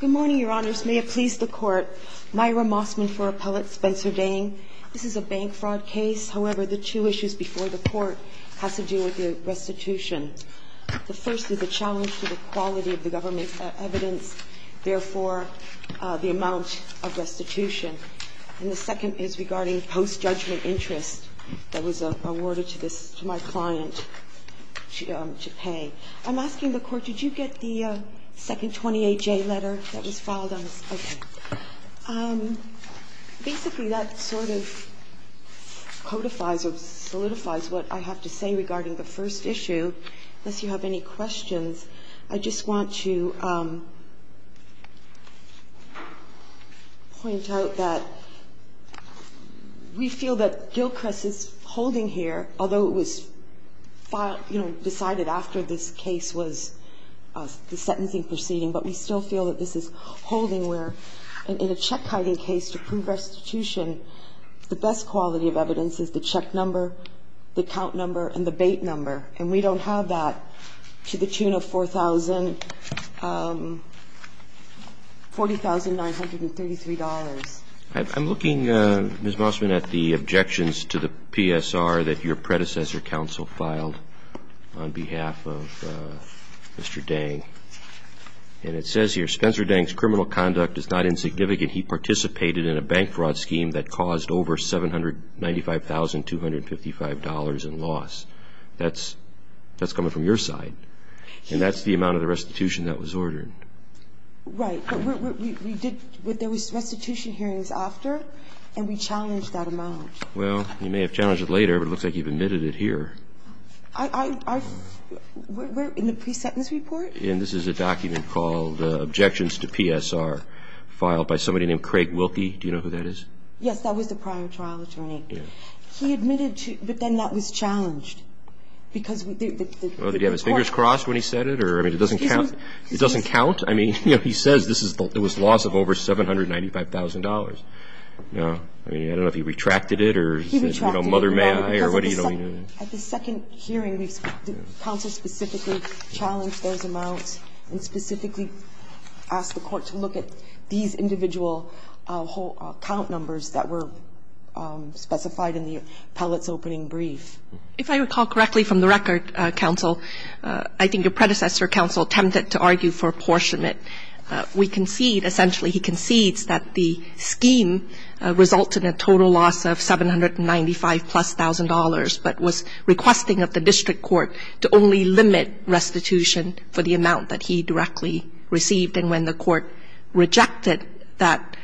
Good morning, Your Honors. May it please the Court, Myra Mossman for Appellate Spencer Dang. This is a bank fraud case. However, the two issues before the Court has to do with restitution. The first is the challenge to the quality of the government's evidence, therefore, the amount of restitution. And the second is regarding post-judgment interest that was awarded to my client to pay. I'm asking the Court, did you get the second 28J letter that was filed on this? Basically, that sort of codifies or solidifies what I have to say regarding the first issue. Unless you have any questions, I just want to point out that we feel that Gilchrist is holding here, although it was, you know, decided after this case was the sentencing proceeding, but we still feel that this is holding where in a check-hiding case to prove restitution, the best quality of evidence is the check number, the count number, and the bait number, and we don't have that to the tune of $4,000, $40,933. I'm looking, Ms. Mossman, at the objections to the PSR that your predecessor counsel filed on behalf of Mr. Dang, and it says here, Spencer Dang's criminal conduct is not insignificant. He participated in a bank fraud scheme that caused over $795,255 in loss. That's coming from your side, and that's the amount of the restitution that was ordered. Right, but there was restitution hearings after, and we challenged that amount. Well, you may have challenged it later, but it looks like you've admitted it here. In the pre-sentence report? Yeah, and this is a document called Objections to PSR, filed by somebody named Craig Wilkie. Do you know who that is? Yes, that was the prior trial attorney. Yeah. He admitted, but then that was challenged because the court ---- I mean, he says it was loss of over $795,000. I mean, I don't know if he retracted it or said, you know, mother, may I, or what do you know. At the second hearing, the counsel specifically challenged those amounts and specifically asked the court to look at these individual count numbers that were specified in the appellate's opening brief. If I recall correctly from the record, counsel, I think your predecessor counsel attempted to argue for apportionment. We concede, essentially he concedes that the scheme resulted in a total loss of $795,000 plus, but was requesting of the district court to only limit restitution for the amount that he directly received. And when the court rejected that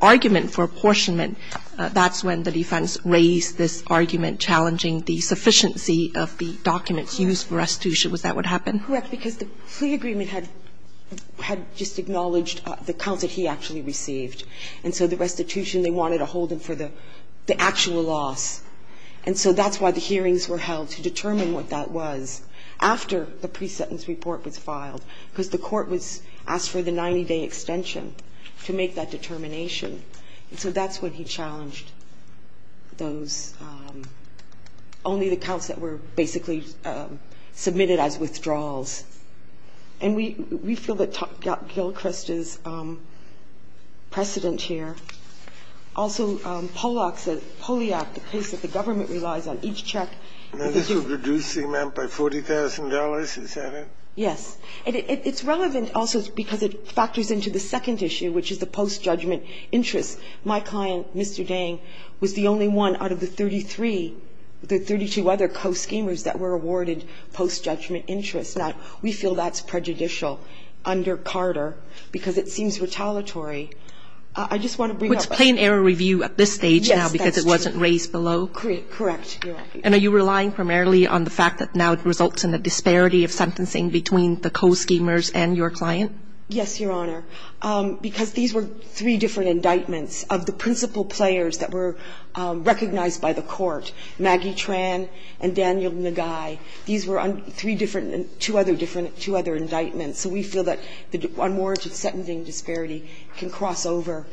argument for apportionment, that's when the defense raised this argument challenging the sufficiency of the documents used for restitution. Was that what happened? Correct, because the plea agreement had just acknowledged the counts that he actually received. And so the restitution, they wanted to hold him for the actual loss. And so that's why the hearings were held, to determine what that was after the pre-sentence report was filed, because the court was asked for the 90-day extension to make that determination. And so that's when he challenged those, only the counts that were basically submitted as withdrawals. And we feel that Gilchrist is precedent here. Also, Poliak, the case that the government relies on, each check. This would reduce the amount by $40,000, is that it? Yes. It's relevant also because it factors into the second issue, which is the post-judgment interest. My client, Mr. Dang, was the only one out of the 33, the 32 other co-schemers that were awarded post-judgment interest. Now, we feel that's prejudicial under Carter, because it seems retaliatory. I just want to bring up the ---- It's plain error review at this stage now because it wasn't raised below? Yes, that's true. Correct, Your Honor. And are you relying primarily on the fact that now it results in a disparity of sentencing between the co-schemers and your client? Yes, Your Honor, because these were three different indictments of the principal players that were recognized by the court, Maggie Tran and Daniel Nagai. These were three different, two other different, two other indictments. So we feel that the unwarranted sentencing disparity can cross over.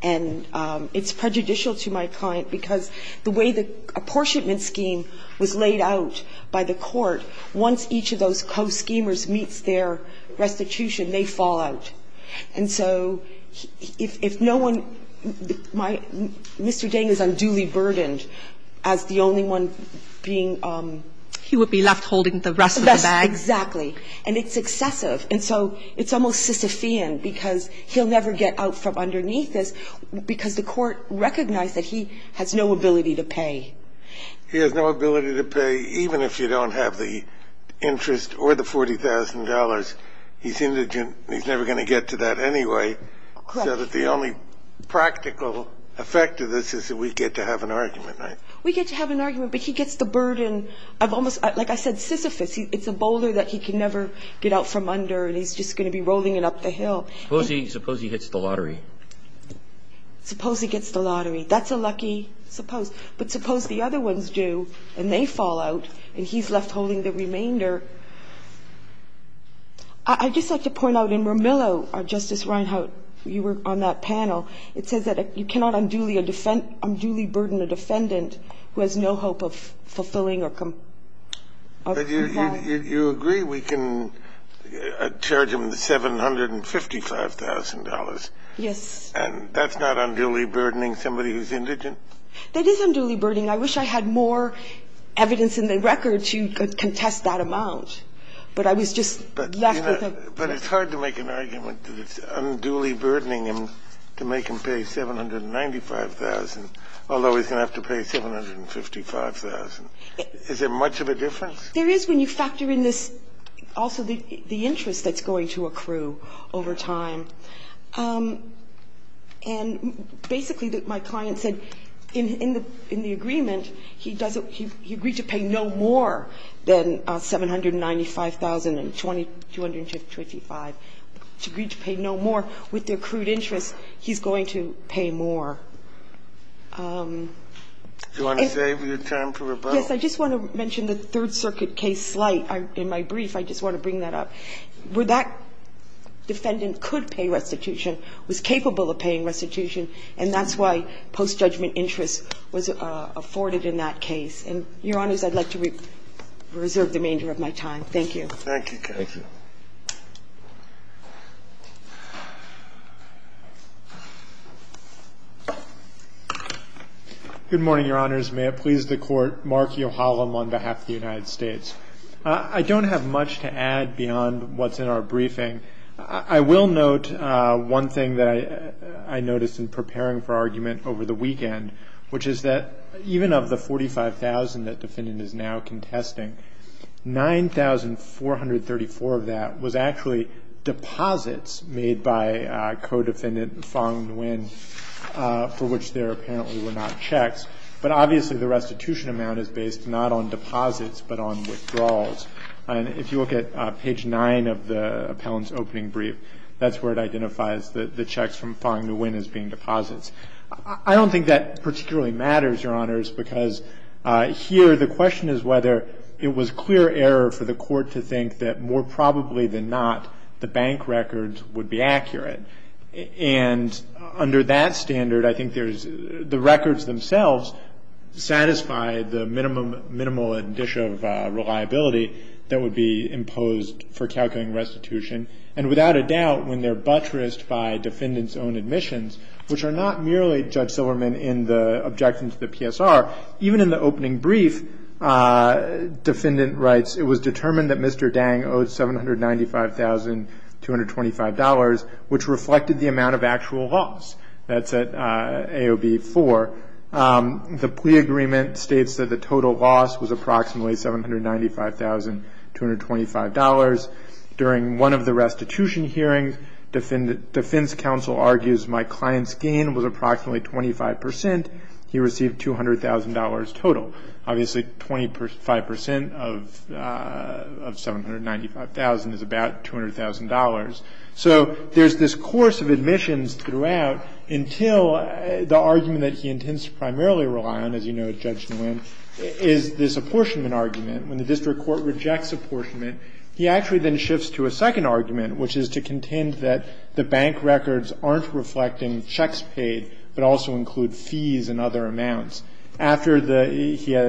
And it's prejudicial to my client because the way the apportionment scheme was laid out by the court, once each of those co-schemers meets their restitution, they fall out. And so if no one ---- Mr. Dang is unduly burdened as the only one being ---- He would be left holding the rest of the bag. Exactly. And it's excessive. And so it's almost Sisyphean, because he'll never get out from underneath this, because the court recognized that he has no ability to pay. He has no ability to pay, even if you don't have the interest or the $40,000. He's indigent, and he's never going to get to that anyway. Correct. So that the only practical effect of this is that we get to have an argument. We get to have an argument, but he gets the burden of almost, like I said, Sisyphus. It's a boulder that he can never get out from under, and he's just going to be rolling it up the hill. Suppose he hits the lottery. Suppose he gets the lottery. That's a lucky suppose. But suppose the other ones do, and they fall out, and he's left holding the I'd just like to point out in Romillo, Justice Reinhart, you were on that panel. It says that you cannot unduly burden a defendant who has no hope of fulfilling or complying. But you agree we can charge him the $755,000. Yes. And that's not unduly burdening somebody who's indigent? That is unduly burdening. I wish I had more evidence in the record to contest that amount. But I was just left with a But it's hard to make an argument that it's unduly burdening him to make him pay $795,000, although he's going to have to pay $755,000. Is there much of a difference? There is when you factor in this also the interest that's going to accrue over time. And basically, my client said in the agreement, he agreed to pay no more than $795,000. And $225,000, he agreed to pay no more. With the accrued interest, he's going to pay more. Do you want to save your time for rebuttal? Yes. I just want to mention the Third Circuit case slight. In my brief, I just want to bring that up. Where that defendant could pay restitution, was capable of paying restitution, and that's why post-judgment interest was afforded in that case. And, Your Honors, I'd like to reserve the remainder of my time. Thank you. Thank you. Thank you. Good morning, Your Honors. May it please the Court, Mark Yohalam on behalf of the United States. I don't have much to add beyond what's in our briefing. I will note one thing that I noticed in preparing for argument over the weekend, which is that even of the $45,000 that the defendant is now contesting, $9,434 of that was actually deposits made by co-defendant Fong Nguyen for which there apparently were not checks. But obviously the restitution amount is based not on deposits but on withdrawals. And if you look at page 9 of the appellant's opening brief, that's where it identifies the checks from Fong Nguyen as being deposits. I don't think that particularly matters, Your Honors, because here the question is whether it was clear error for the Court to think that more probably than not the bank records would be accurate. And under that standard, I think there's the records themselves satisfy the minimum and dish of reliability that would be imposed for calculating restitution. And without a doubt, when they're buttressed by defendant's own admissions, which are not merely, Judge Silverman, in the objection to the PSR, even in the opening brief, defendant writes, it was determined that Mr. Dang owed $795,225, which reflected the amount of actual loss. That's at AOB 4. The plea agreement states that the total loss was approximately $795,225. During one of the restitution hearings, defense counsel argues my client's gain was approximately 25%. He received $200,000 total. Obviously, 25% of $795,000 is about $200,000. So there's this course of admissions throughout until the argument that he intends to primarily rely on, as you know, Judge Nguyen, is this apportionment argument. When the district court rejects apportionment, he actually then shifts to a second argument, which is to contend that the bank records aren't reflecting checks paid, but also include fees and other amounts. After the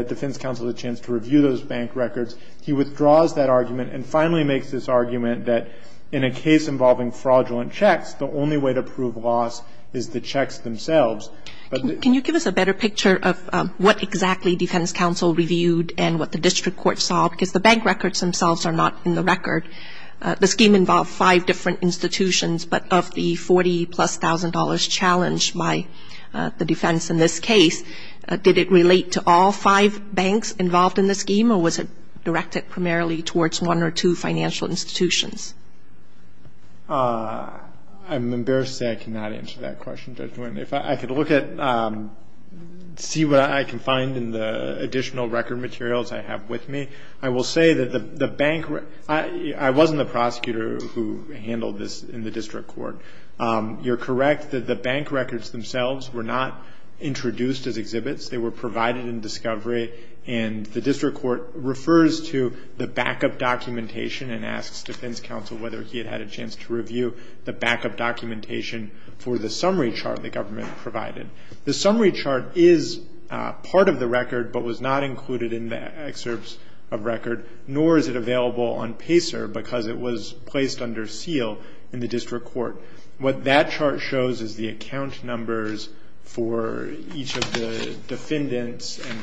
defense counsel has a chance to review those bank records, he withdraws that argument and finally makes this argument that in a case involving fraudulent checks, the only way to prove loss is the checks themselves. Can you give us a better picture of what exactly defense counsel reviewed and what the district court saw? Because the bank records themselves are not in the record. The scheme involved five different institutions, but of the $40,000-plus challenge by the defense in this case, did it relate to all five banks involved in the scheme, or was it directed primarily towards one or two financial institutions? I'm embarrassed to say I cannot answer that question, Judge Nguyen. If I could look at, see what I can find in the additional record materials I have with me, I will say that the bank, I wasn't the prosecutor who handled this in the district court. You're correct that the bank records themselves were not introduced as exhibits. They were provided in discovery, and the district court refers to the backup documentation and asks defense counsel whether he had had a chance to review the backup documentation for the summary chart the government provided. The summary chart is part of the record but was not included in the excerpts of record, nor is it available on PACER because it was placed under seal in the district court. What that chart shows is the account numbers for each of the defendants and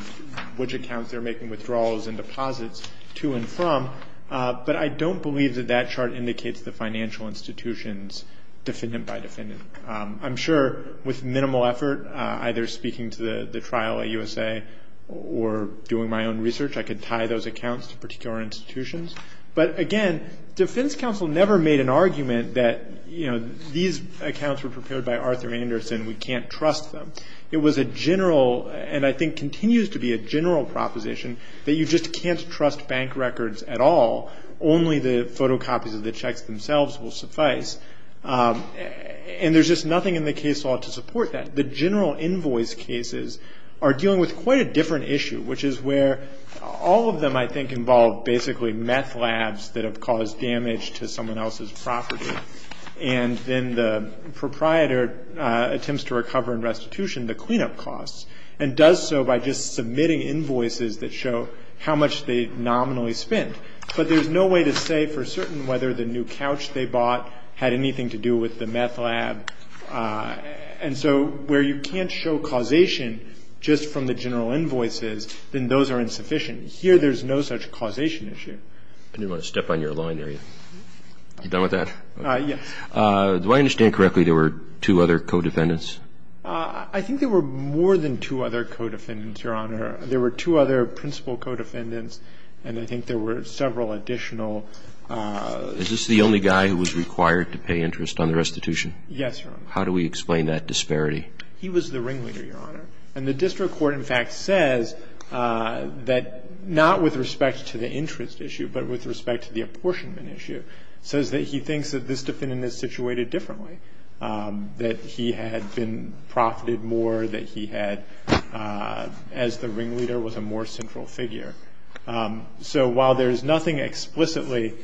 which accounts they're making withdrawals and deposits to and from, but I don't believe that that chart indicates the financial institutions defendant by defendant. I'm sure with minimal effort, either speaking to the trial at USA or doing my own research, I could tie those accounts to particular institutions. But again, defense counsel never made an argument that, you know, these accounts were prepared by Arthur Anderson, we can't trust them. It was a general, and I think continues to be a general proposition, that you just can't trust bank records at all. Only the photocopies of the checks themselves will suffice. And there's just nothing in the case law to support that. The general invoice cases are dealing with quite a different issue, which is where all of them, I think, involve basically meth labs that have caused damage to someone else's property. And then the proprietor attempts to recover in restitution the cleanup costs and does so by just submitting invoices that show how much they nominally spent. But there's no way to say for certain whether the new couch they bought had anything to do with the meth lab. And so where you can't show causation just from the general invoices, then those are insufficient. Here there's no such causation issue. I didn't want to step on your line there. Are you done with that? Yes. Do I understand correctly there were two other co-defendants? I think there were more than two other co-defendants, Your Honor. There were two other principal co-defendants, and I think there were several additional. Is this the only guy who was required to pay interest on the restitution? Yes, Your Honor. How do we explain that disparity? He was the ringleader, Your Honor. And the district court, in fact, says that not with respect to the interest issue, but with respect to the apportionment issue, says that he thinks that this defendant is situated differently, that he had been profited more, that he had, as the ringleader, was a more central figure. So while there's nothing explicitly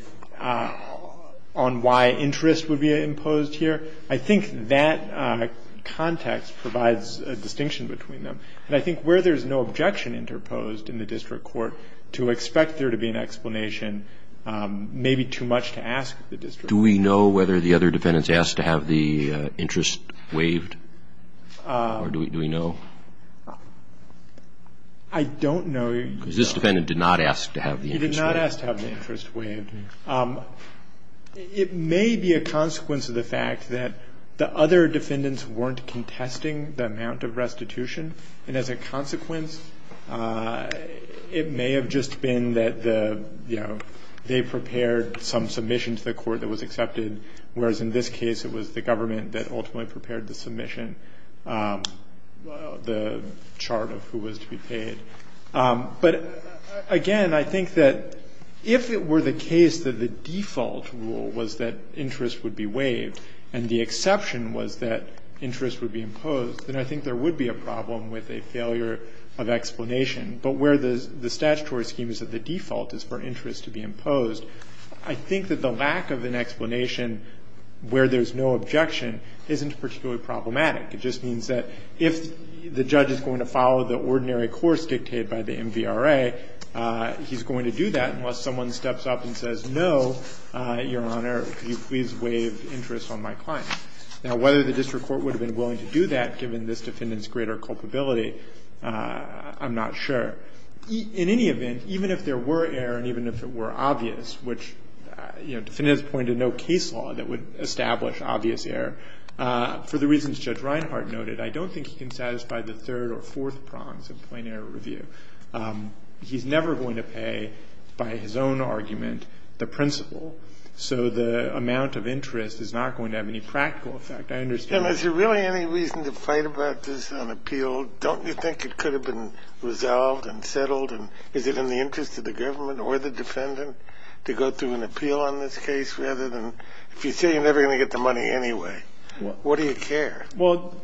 on why interest would be imposed here, I think that context provides a distinction between them. And I think where there's no objection interposed in the district court to expect there to be an explanation may be too much to ask the district court. Do we know whether the other defendants asked to have the interest waived? Or do we know? I don't know. Because this defendant did not ask to have the interest waived. He did not ask to have the interest waived. It may be a consequence of the fact that the other defendants weren't contesting the amount of restitution, and as a consequence, it may have just been that the, you know, they prepared some submission to the court that was accepted, whereas in this case it was the government that ultimately prepared the submission. The chart of who was to be paid. But, again, I think that if it were the case that the default rule was that interest would be waived and the exception was that interest would be imposed, then I think there would be a problem with a failure of explanation. But where the statutory scheme is that the default is for interest to be imposed, I think that the lack of an explanation where there's no objection isn't particularly problematic. It just means that if the judge is going to follow the ordinary course dictated by the MVRA, he's going to do that unless someone steps up and says, no, your Honor, could you please waive interest on my client? Now, whether the district court would have been willing to do that, given this defendant's greater culpability, I'm not sure. In any event, even if there were error and even if it were obvious, which, you know, the defendant has pointed no case law that would establish obvious error. For the reasons Judge Reinhart noted, I don't think he can satisfy the third or fourth prongs of plain error review. He's never going to pay, by his own argument, the principal. So the amount of interest is not going to have any practical effect. I understand that. Kennedy. And is there really any reason to fight about this on appeal? Don't you think it could have been resolved and settled? And is it in the interest of the government or the defendant to go through an appeal on this case rather than, if you say you're never going to get the money anyway, what do you care? Well,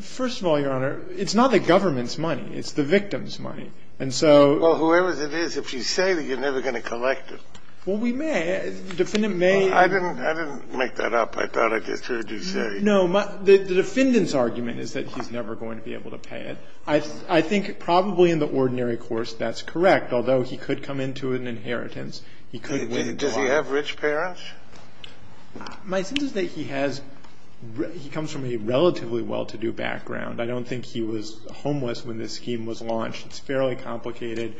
first of all, Your Honor, it's not the government's money. It's the victim's money. And so — Well, whoever it is, if you say that, you're never going to collect it. Well, we may. The defendant may — I didn't make that up. I thought I just heard you say — No. The defendant's argument is that he's never going to be able to pay it. I think probably in the ordinary course that's correct. Although he could come into an inheritance. He could — Does he have rich parents? My sense is that he has — he comes from a relatively well-to-do background. I don't think he was homeless when this scheme was launched. It's fairly complicated.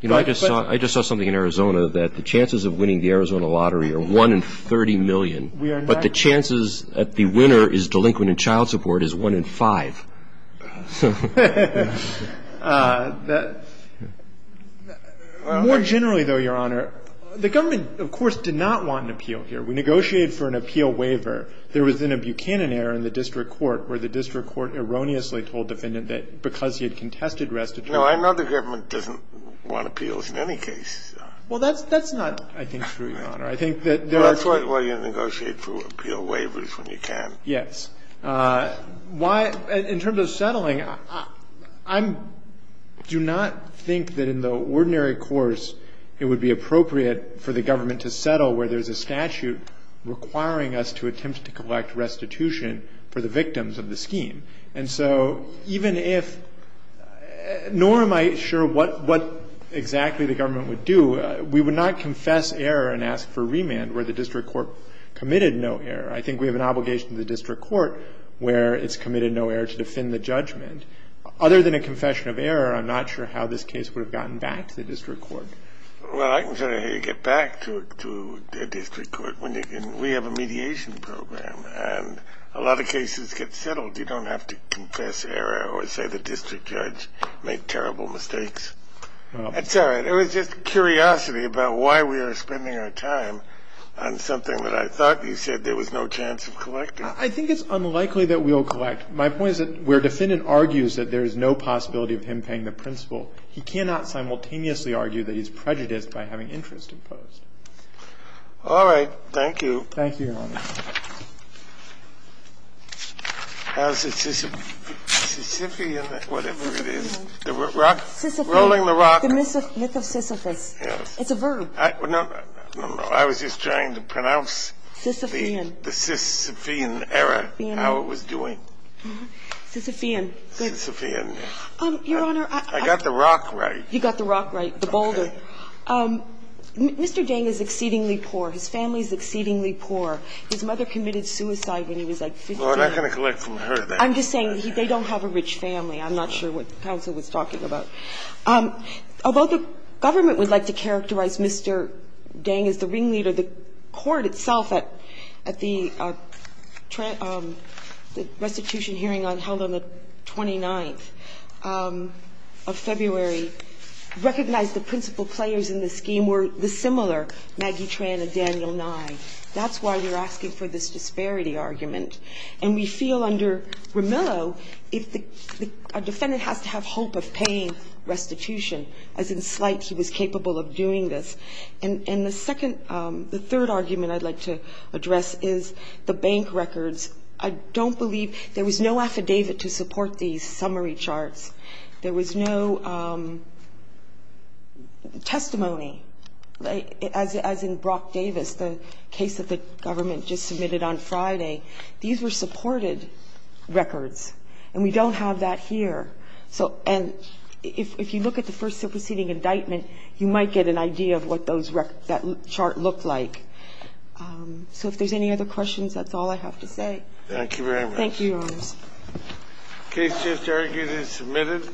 You know, I just saw something in Arizona that the chances of winning the Arizona lottery are 1 in 30 million. But the chances that the winner is delinquent in child support is 1 in 5. More generally, though, Your Honor, the government, of course, did not want an appeal here. We negotiated for an appeal waiver. There was then a Buchanan error in the district court where the district court erroneously told defendant that because he had contested restitution — No, I know the government doesn't want appeals in any case. Well, that's not, I think, true, Your Honor. I think that — That's why you negotiate for appeal waivers when you can. Yes. Why — in terms of settling, I'm — do not think that in the ordinary course it would be appropriate for the government to settle where there's a statute requiring us to attempt to collect restitution for the victims of the scheme. And so even if — nor am I sure what exactly the government would do. We would not confess error and ask for remand where the district court committed no error. I think we have an obligation to the district court where it's committed no error to defend the judgment. Other than a confession of error, I'm not sure how this case would have gotten back to the district court. Well, I can tell you how you get back to a district court when you can. We have a mediation program, and a lot of cases get settled. You don't have to confess error or say the district judge made terrible mistakes. It's all right. There was just curiosity about why we are spending our time on something that I thought you said there was no chance of collecting. I think it's unlikely that we'll collect. My point is that where a defendant argues that there is no possibility of him paying the principal, he cannot simultaneously argue that he's prejudiced by having interest imposed. Thank you. Thank you, Your Honor. How's it, Sisyphean? Whatever it is. Rolling the rock. The myth of Sisyphus. Yes. It's a verb. No, no. I was just trying to pronounce the Sisyphean era, how it was doing. Sisyphean. Sisyphean, yes. Your Honor, I got the rock right. You got the rock right, the boulder. Okay. Mr. Dang is exceedingly poor. His family is exceedingly poor. His mother committed suicide when he was like 15. Well, I'm not going to collect from her then. I'm just saying they don't have a rich family. I'm not sure what counsel was talking about. Although the government would like to characterize Mr. Dang as the ringleader, the court itself at the restitution hearing held on the 29th of February recognized the principal players in the scheme were the similar, Maggie Tran and Daniel Nye. That's why they're asking for this disparity argument. And we feel under Romillo, a defendant has to have hope of paying restitution, as in slight he was capable of doing this. And the third argument I'd like to address is the bank records. I don't believe there was no affidavit to support these summary charts. There was no testimony, as in Brock Davis. The case that the government just submitted on Friday, these were supported records. And we don't have that here. And if you look at the first superseding indictment, you might get an idea of what that chart looked like. So if there's any other questions, that's all I have to say. Thank you very much. Thank you, Your Honors. The case just argued and submitted.